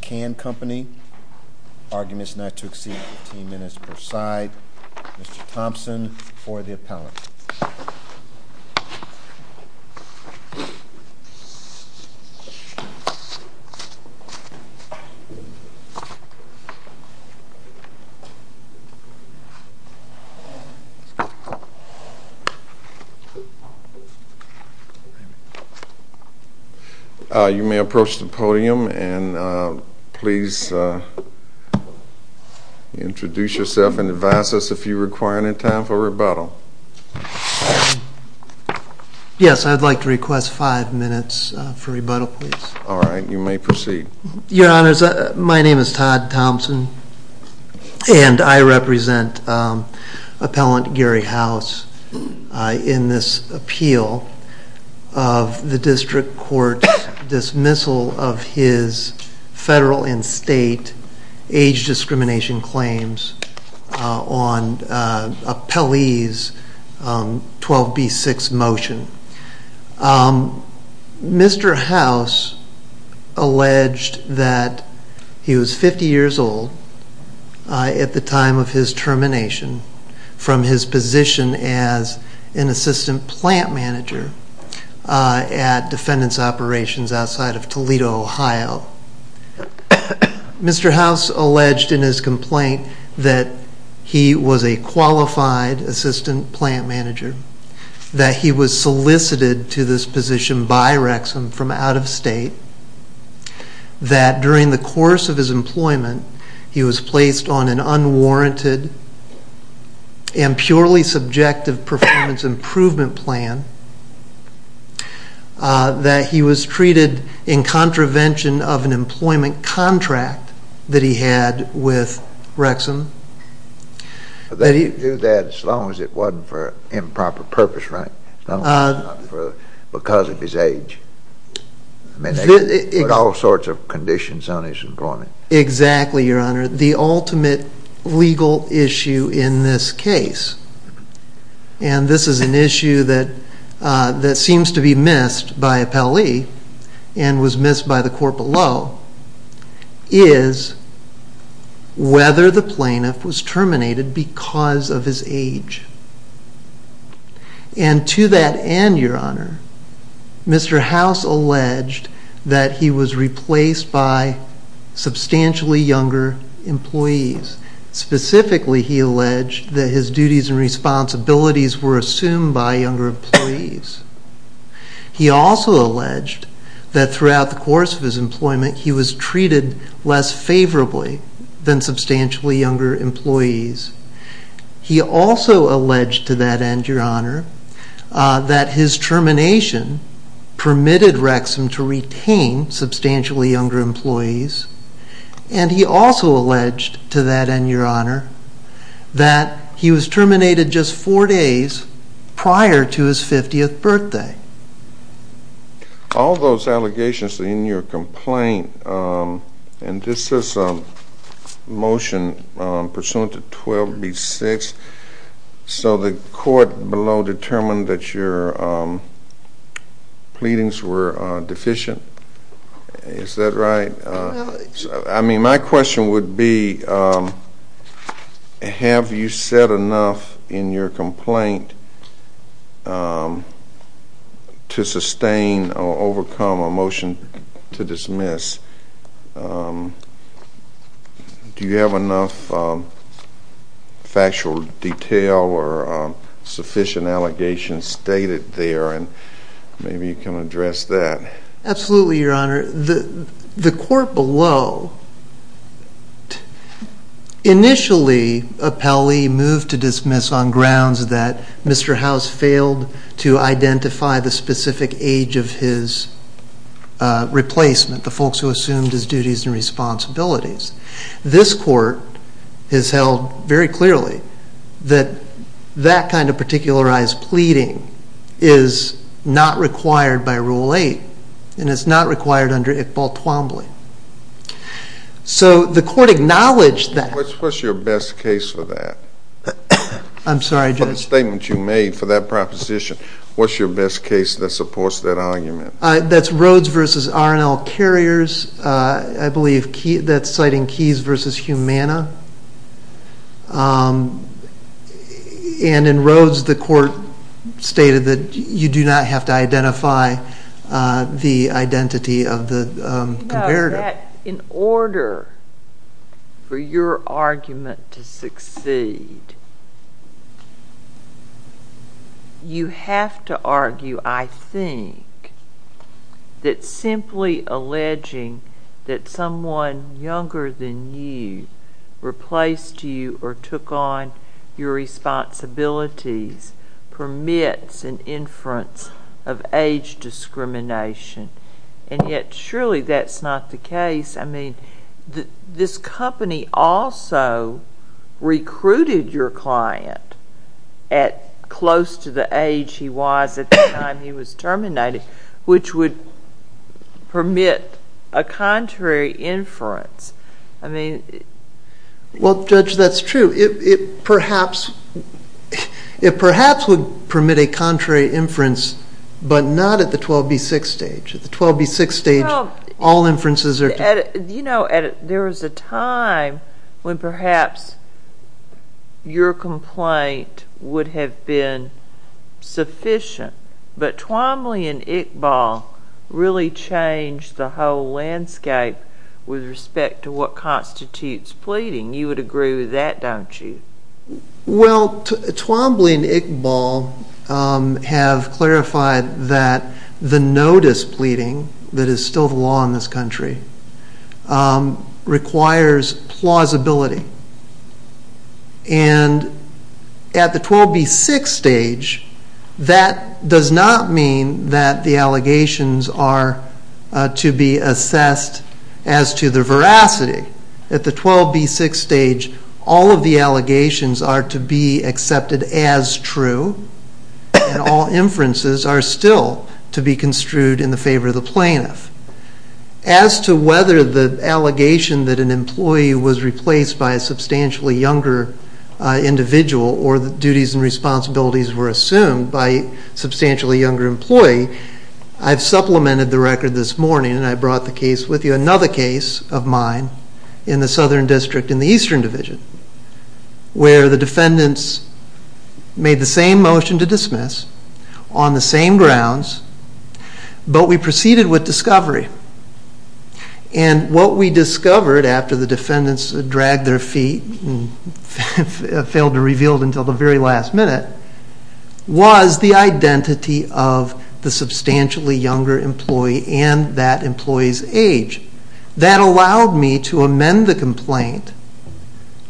Can Company. Arguments not to exceed 15 minutes per side. Mr. Thompson for the appellate. You may approach the podium and please introduce yourself and advise us if you require any time for rebuttal. Yes, I would like to request five minutes for rebuttal please. Alright, you may proceed. Your honors, my name is Todd Thompson and I represent appellant Gary House in this appeal of the district court dismissal of his federal and state age discrimination claims on appellee's 12b6 motion. Mr. House alleged that he was 50 years old at the time of his termination from his position as an assistant plant manager at defendants operations outside of Toledo, Ohio. Mr. House alleged in his complaint that he was a qualified assistant plant manager, that he was solicited to this position by Rexam from out of state, that during the course of his employment he was placed on an unwarranted and purely subjective performance improvement plan, that he was treated in contravention of an employment contract that he had with Rexam. But they could do that as long as it wasn't for improper purpose, right? Because of his age. All sorts of conditions on his employment. Exactly, your honor. The ultimate legal issue in this case, and this is an issue that seems to be missed by appellee and was missed by the court below, is whether the plaintiff was terminated because of his age. And to that end, your honor, Mr. House alleged that he was replaced by substantially younger employees. Specifically, he alleged that his duties and responsibilities were assumed by younger employees. He also alleged that throughout the course of his employment he was treated less favorably than substantially younger employees. He also alleged to that end, your honor, that his termination permitted Rexam to retain substantially younger employees. And he also alleged to that end, your honor, that he was terminated just four days prior to his 50th birthday. All those allegations in your complaint, and this is a motion pursuant to 12B6, so the court below determined that your pleadings were deficient. Is that right? I mean, my question would be, have you said enough in your complaint to sustain or overcome a motion to dismiss? Do you have enough factual detail or sufficient allegations stated there? And maybe you can address that. Absolutely, your honor. The court below initially appellee moved to dismiss on grounds that Mr. House failed to identify the specific age of his replacement, the folks who assumed his duties and responsibilities. This court has held very clearly that that kind of particularized pleading is not required by Rule 8, and it's not required under Iqbal Twombly. So the court acknowledged that. What's your best case for that? I'm sorry, Judge. For the statement you made for that proposition, what's your best case that supports that argument? That's Rhoades v. R&L Carriers. I believe that's citing Keyes v. Humana. And in Rhoades, the court stated that you do not have to identify the identity of the comparative. In order for your argument to succeed, you have to argue, I think, that simply alleging that someone younger than you replaced you or took on your responsibilities permits an inference of age discrimination. And yet, surely that's not the case. I mean, this company also recruited your client at close to the age he was at the time he was terminated, which would permit a contrary inference. Well, Judge, that's true. It perhaps would permit a contrary inference, but not at the 12B6 stage. At the 12B6 stage, all inferences are true. You know, there was a time when perhaps your complaint would have been sufficient, but Twombly and Iqbal really changed the whole landscape with respect to what constitutes pleading. You would agree with that, don't you? Well, Twombly and Iqbal have clarified that the no-displeading that is still the law in this country requires plausibility. And at the 12B6 stage, that does not mean that the allegations are to be assessed as to the veracity. At the 12B6 stage, all of the allegations are to be accepted as true, and all inferences are still to be construed in the favor of the plaintiff. As to whether the allegation that an employee was replaced by a substantially younger individual or that duties and responsibilities were assumed by a substantially younger employee, I've supplemented the record this morning, and I brought the case with you. There was another case of mine in the Southern District in the Eastern Division, where the defendants made the same motion to dismiss on the same grounds, but we proceeded with discovery. And what we discovered after the defendants dragged their feet and failed to reveal it until the very last minute was the identity of the substantially younger employee and that employee's age. That allowed me to amend the complaint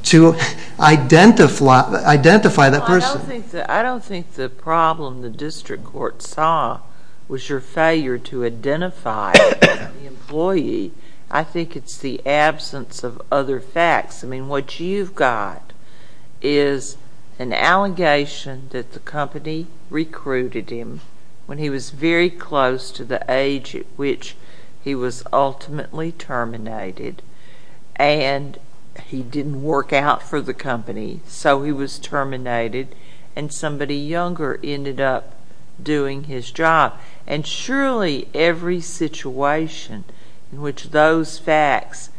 to identify that person. I don't think the problem the district court saw was your failure to identify the employee. I think it's the absence of other facts. I mean, what you've got is an allegation that the company recruited him when he was very close to the age at which he was ultimately terminated, and he didn't work out for the company, so he was terminated, and somebody younger ended up doing his job. And surely every situation in which those facts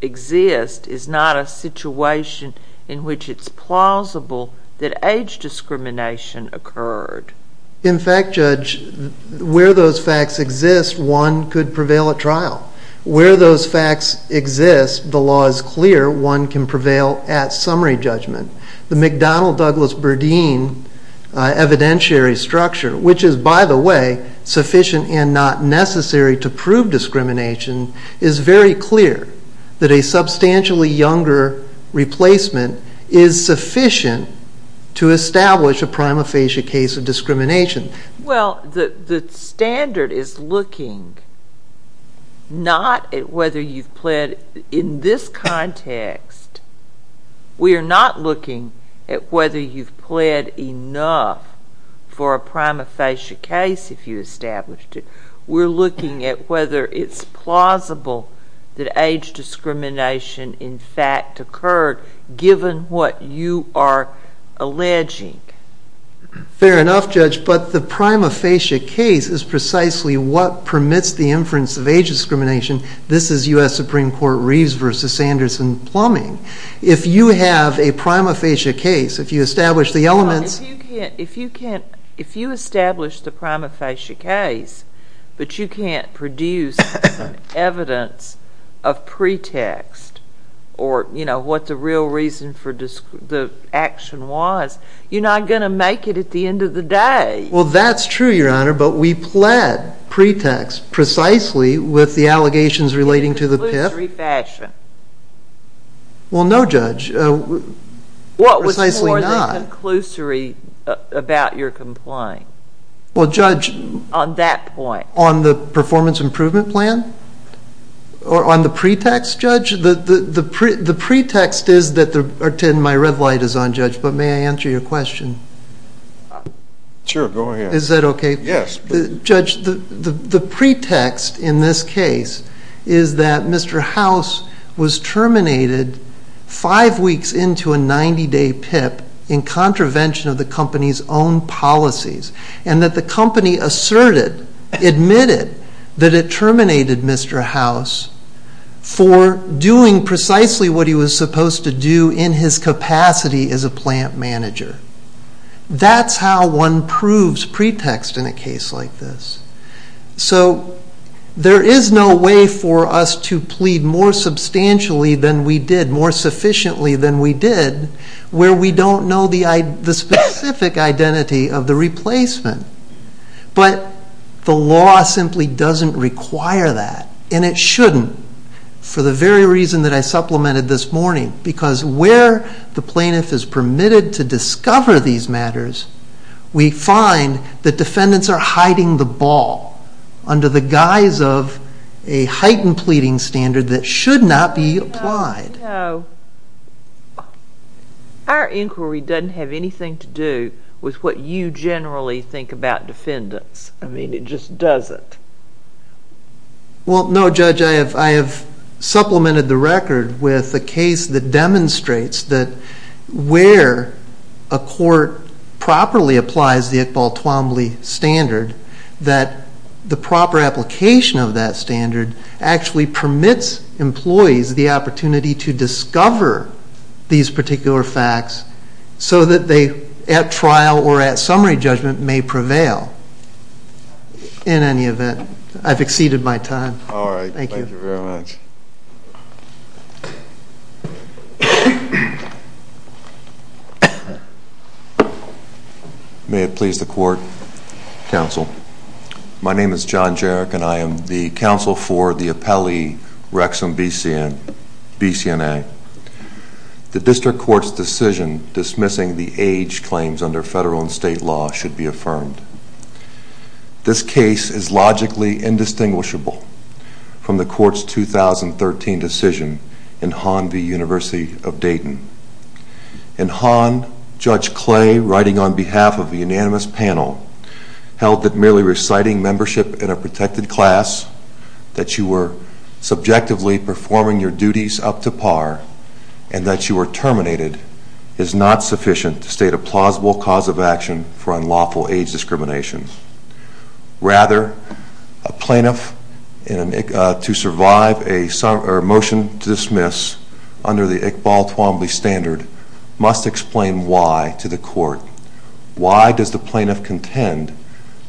exist is not a situation in which it's plausible that age discrimination occurred. In fact, Judge, where those facts exist, one could prevail at trial. Where those facts exist, the law is clear, one can prevail at summary judgment. The McDonnell-Douglas-Burdine evidentiary structure, which is, by the way, sufficient and not necessary to prove discrimination, is very clear that a substantially younger replacement is sufficient to establish a prima facie case of discrimination. Well, the standard is looking not at whether you've pled in this context. We are not looking at whether you've pled enough for a prima facie case if you established it. We're looking at whether it's plausible that age discrimination, in fact, occurred given what you are alleging. Fair enough, Judge. But the prima facie case is precisely what permits the inference of age discrimination. This is U.S. Supreme Court Reeves v. Sanderson plumbing. If you have a prima facie case, if you establish the elements— or, you know, what the real reason for the action was, you're not going to make it at the end of the day. Well, that's true, Your Honor, but we pled pretext precisely with the allegations relating to the PIF. In a conclusory fashion. Well, no, Judge, precisely not. What was more the conclusory about your complaint? Well, Judge— On that point. On the performance improvement plan? Or on the pretext, Judge? The pretext is that—or, Tim, my red light is on, Judge, but may I answer your question? Sure, go ahead. Is that okay? Yes. Judge, the pretext in this case is that Mr. House was terminated five weeks into a 90-day PIP in contravention of the company's own policies. And that the company asserted, admitted, that it terminated Mr. House for doing precisely what he was supposed to do in his capacity as a plant manager. That's how one proves pretext in a case like this. So, there is no way for us to plead more substantially than we did, more sufficiently than we did, where we don't know the specific identity of the replacement. But the law simply doesn't require that. And it shouldn't, for the very reason that I supplemented this morning. Because where the plaintiff is permitted to discover these matters, we find that defendants are hiding the ball under the guise of a heightened pleading standard that should not be applied. So, our inquiry doesn't have anything to do with what you generally think about defendants. I mean, it just doesn't. Well, no, Judge, I have supplemented the record with a case that demonstrates that where a court properly applies the Iqbal Twombly standard, that the proper application of that standard actually permits employees the opportunity to discover these particular facts so that they, at trial or at summary judgment, may prevail. In any event, I've exceeded my time. All right. Thank you. Thank you very much. May it please the court, counsel. My name is John Jarek, and I am the counsel for the appellee, Rexon B.C.N.A. The district court's decision dismissing the age claims under federal and state law should be affirmed. This case is logically indistinguishable from the court's 2013 decision in Hahn v. University of Dayton. In Hahn, Judge Clay, writing on behalf of the unanimous panel, held that merely reciting membership in a protected class, that you were subjectively performing your duties up to par, and that you were terminated is not sufficient to state a plausible cause of action for unlawful age discrimination. Rather, a plaintiff, to survive a motion to dismiss under the Iqbal Twombly standard, must explain why to the court. Why does the plaintiff contend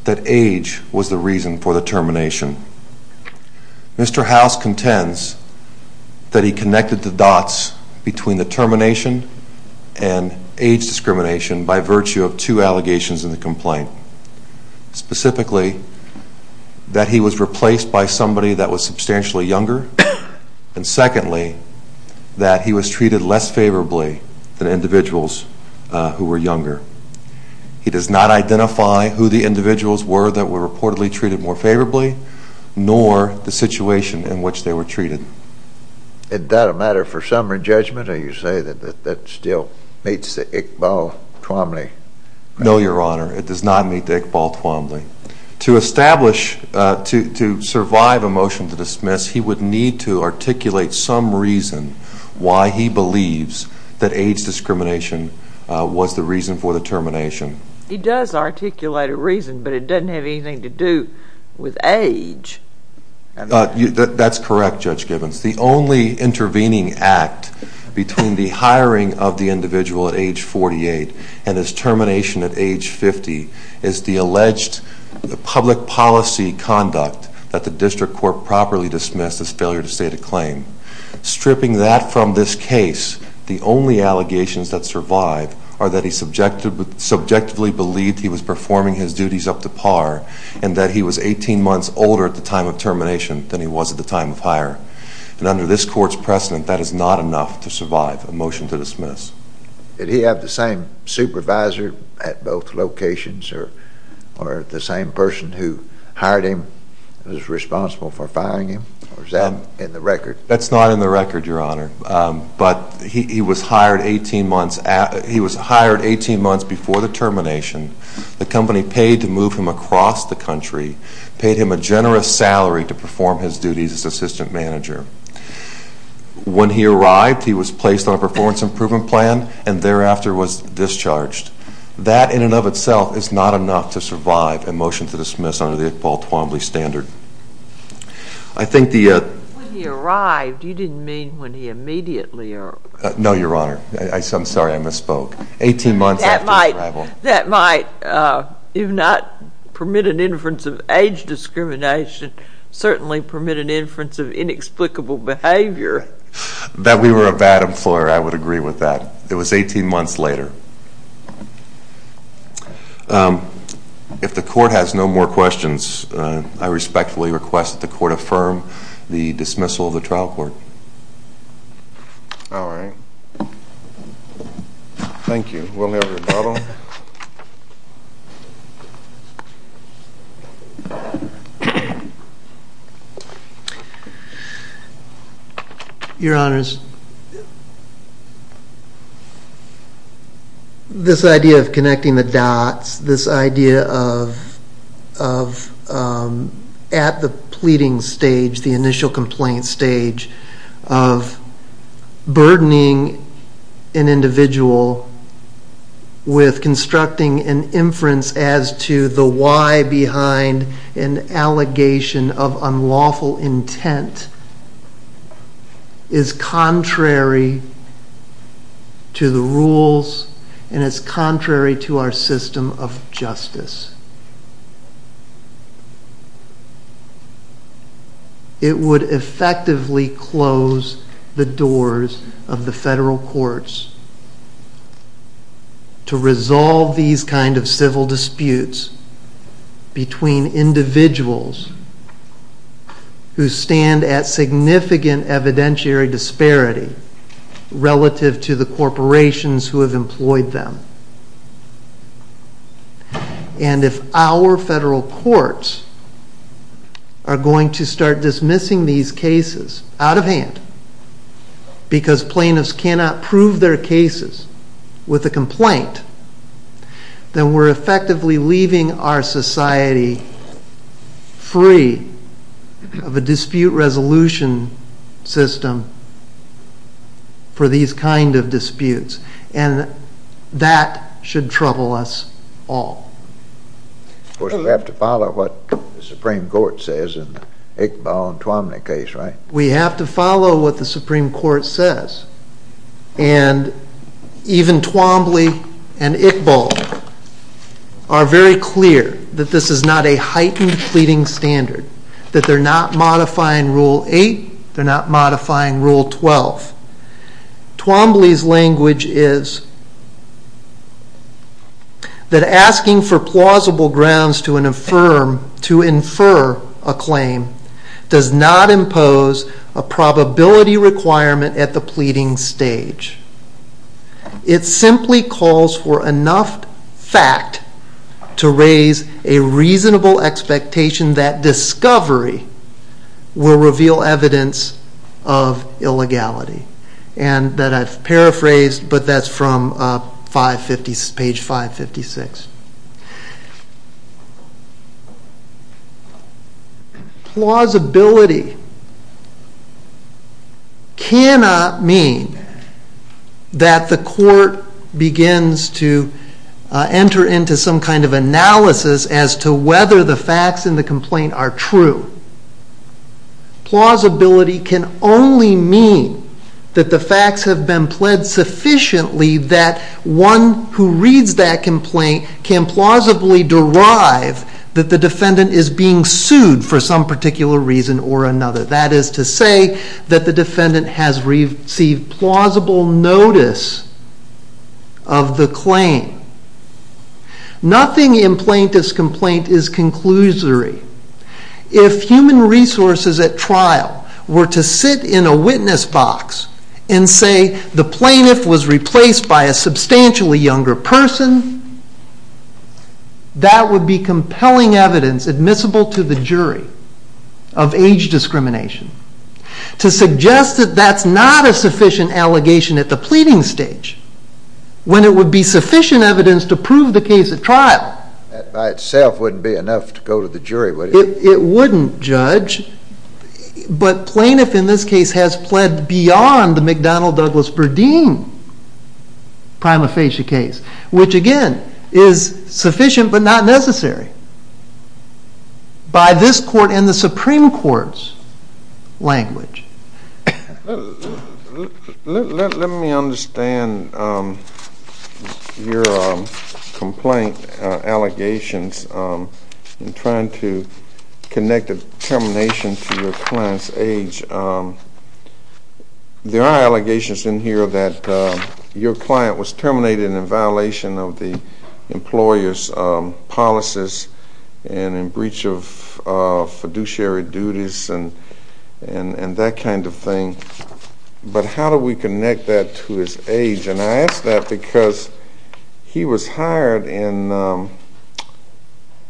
that age was the reason for the termination? Mr. House contends that he connected the dots between the termination and age discrimination by virtue of two allegations in the complaint. Specifically, that he was replaced by somebody that was substantially younger, and secondly, that he was treated less favorably than individuals who were younger. He does not identify who the individuals were that were reportedly treated more favorably, nor the situation in which they were treated. Is that a matter for summary judgment, or do you say that that still meets the Iqbal Twombly? No, Your Honor, it does not meet the Iqbal Twombly. To establish, to survive a motion to dismiss, he would need to articulate some reason why he believes that age discrimination was the reason for the termination. He does articulate a reason, but it doesn't have anything to do with age. That's correct, Judge Gibbons. The only intervening act between the hiring of the individual at age 48 and his termination at age 50 is the alleged public policy conduct that the district court properly dismissed as failure to state a claim. Stripping that from this case, the only allegations that survive are that he subjectively believed he was performing his duties up to par, and that he was 18 months older at the time of termination than he was at the time of hire. And under this court's precedent, that is not enough to survive a motion to dismiss. Did he have the same supervisor at both locations, or the same person who hired him who was responsible for firing him? Or is that in the record? That's not in the record, Your Honor. But he was hired 18 months before the termination. The company paid to move him across the country, paid him a generous salary to perform his duties as assistant manager. When he arrived, he was placed on a performance improvement plan, and thereafter was discharged. That in and of itself is not enough to survive a motion to dismiss under the Iqbal Twombly standard. When he arrived, you didn't mean when he immediately arrived. No, Your Honor. I'm sorry, I misspoke. Eighteen months after his arrival. That might, if not permit an inference of age discrimination, certainly permit an inference of inexplicable behavior. That we were a bad employer, I would agree with that. It was 18 months later. If the Court has no more questions, I respectfully request that the Court affirm the dismissal of the trial court. All right. Thank you. We'll now go to Donald. Your Honors, this idea of connecting the dots, this idea of at the pleading stage, the initial complaint stage, of burdening an individual with constructing an inference as to the why behind an allegation of unlawful intent is contrary to the rules and is contrary to our system of justice. It would effectively close the doors of the federal courts to resolve these kind of civil disputes between individuals who stand at significant evidentiary disparity relative to the corporations who have employed them. And if our federal courts are going to start dismissing these cases out of hand because plaintiffs cannot prove their cases with a complaint, then we're effectively leaving our society free of a dispute resolution system for these kind of disputes. And that should trouble us all. Of course, we have to follow what the Supreme Court says in the Iqbal and Twombly case, right? We have to follow what the Supreme Court says. And even Twombly and Iqbal are very clear that this is not a heightened pleading standard, that they're not modifying Rule 8, they're not modifying Rule 12. Twombly's language is that asking for plausible grounds to infer a claim does not impose a probability requirement at the pleading stage. It simply calls for enough fact to raise a reasonable expectation that discovery will reveal evidence of illegality. And that I've paraphrased, but that's from page 556. Plausibility cannot mean that the court begins to enter into some kind of analysis as to whether the facts in the complaint are true. Plausibility can only mean that the facts have been pled sufficiently that one who reads that complaint can plausibly derive that the defendant is being sued for some particular reason or another. That is to say that the defendant has received plausible notice of the claim. Nothing in plaintiff's complaint is conclusory. If human resources at trial were to sit in a witness box and say the plaintiff was replaced by a substantially younger person, that would be compelling evidence admissible to the jury of age discrimination. To suggest that that's not a sufficient allegation at the pleading stage, when it would be sufficient evidence to prove the case at trial... That by itself wouldn't be enough to go to the jury, would it? It wouldn't, Judge. But plaintiff in this case has pled beyond the McDonnell-Douglas-Berdeen prima facie case, which again is sufficient but not necessary by this court and the Supreme Court's language. Let me understand your complaint allegations in trying to connect a termination to your client's age. There are allegations in here that your client was terminated in violation of the employer's policies and in breach of fiduciary duties and that kind of thing. But how do we connect that to his age? And I ask that because he was hired in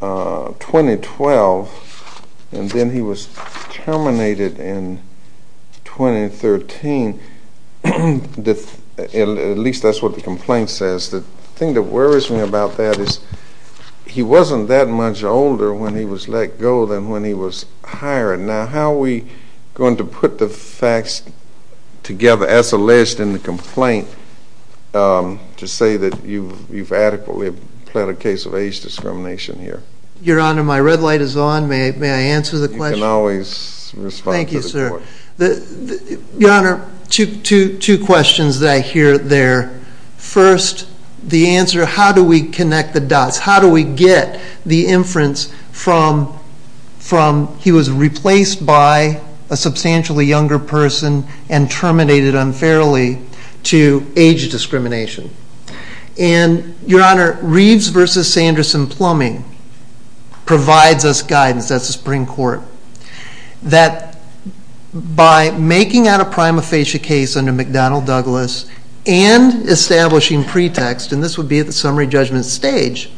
2012 and then he was terminated in 2013. At least that's what the complaint says. The thing that worries me about that is he wasn't that much older when he was let go than when he was hired. Now how are we going to put the facts together as alleged in the complaint to say that you've adequately pled a case of age discrimination here? Your Honor, my red light is on. May I answer the question? You can always respond to the court. Thank you, sir. Your Honor, two questions that I hear there. First, the answer, how do we connect the dots? How do we get the inference from he was replaced by a substantially younger person and terminated unfairly to age discrimination? And, Your Honor, Reeves v. Sanderson-Plumbing provides us guidance, that's the Supreme Court, that by making out a prima facie case under McDonnell-Douglas and establishing pretext, and this would be at the summary judgment stage,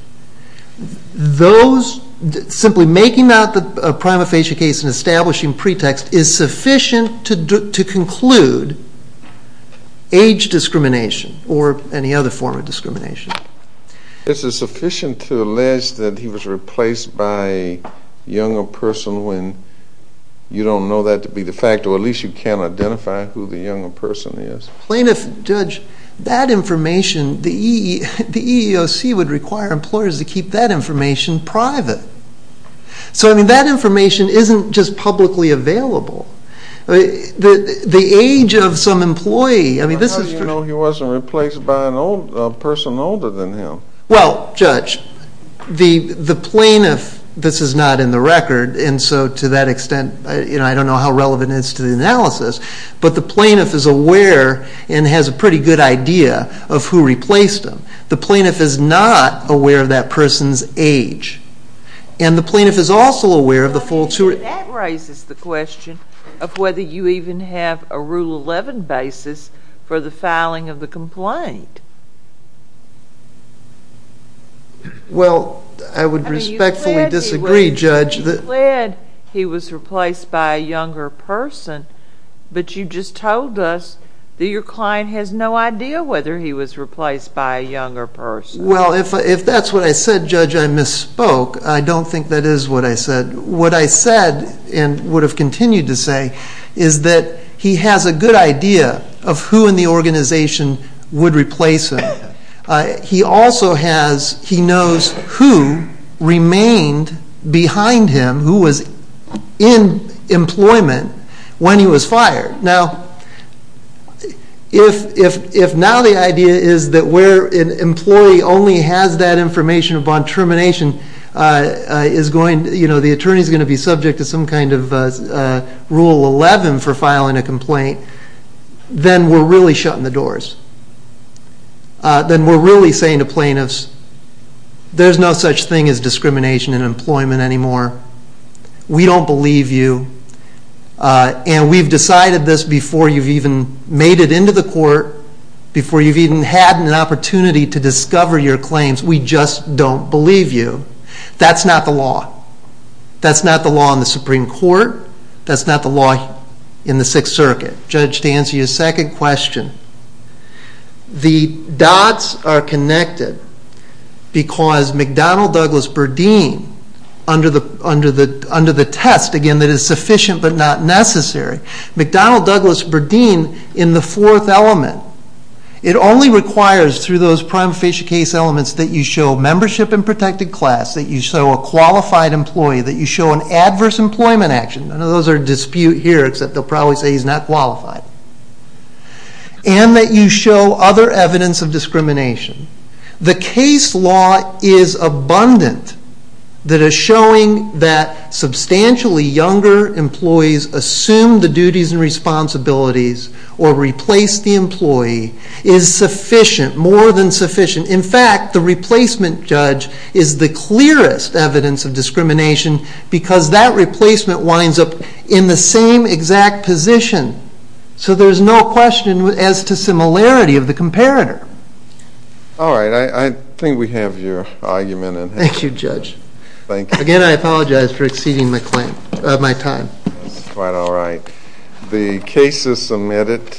those, simply making out the prima facie case and establishing pretext is sufficient to conclude age discrimination or any other form of discrimination. Is it sufficient to allege that he was replaced by a younger person when you don't know that to be the fact, or at least you can't identify who the younger person is? Plaintiff, Judge, that information, the EEOC would require employers to keep that information private. So, I mean, that information isn't just publicly available. The age of some employee, I mean, this is... But you know he wasn't replaced by a person older than him. Well, Judge, the plaintiff, this is not in the record, and so to that extent, you know, I don't know how relevant it is to the analysis, but the plaintiff is aware and has a pretty good idea of who replaced him. The plaintiff is not aware of that person's age. And the plaintiff is also aware of the folks who... That raises the question of whether you even have a Rule 11 basis for the filing of the complaint. Well, I would respectfully disagree, Judge. You said he was replaced by a younger person, but you just told us that your client has no idea whether he was replaced by a younger person. Well, if that's what I said, Judge, I misspoke. I don't think that is what I said. What I said and would have continued to say is that he has a good idea of who in the organization would replace him. He also has... He knows who remained behind him, who was in employment when he was fired. Now, if now the idea is that where an employee only has that information upon termination is going... You know, the attorney's going to be subject to some kind of Rule 11 for filing a complaint, then we're really shutting the doors. Then we're really saying to plaintiffs, there's no such thing as discrimination in employment anymore. We don't believe you. And we've decided this before you've even made it into the court, before you've even had an opportunity to discover your claims. We just don't believe you. That's not the law. That's not the law in the Supreme Court. That's not the law in the Sixth Circuit. Judge, to answer your second question, the dots are connected because McDonnell-Douglas-Berdeen, under the test, again, that is sufficient but not necessary, McDonnell-Douglas-Berdeen in the fourth element, it only requires through those prima facie case elements that you show membership in protected class, that you show a qualified employee, that you show an adverse employment action. None of those are in dispute here, except they'll probably say he's not qualified. And that you show other evidence of discrimination. The case law is abundant that is showing that substantially younger employees assume the duties and responsibilities or replace the employee is sufficient, more than sufficient. In fact, the replacement judge is the clearest evidence of discrimination because that replacement winds up in the same exact position. So there's no question as to similarity of the comparator. All right. I think we have your argument. Thank you, Judge. Again, I apologize for exceeding my time. That's quite all right. The case is submitted.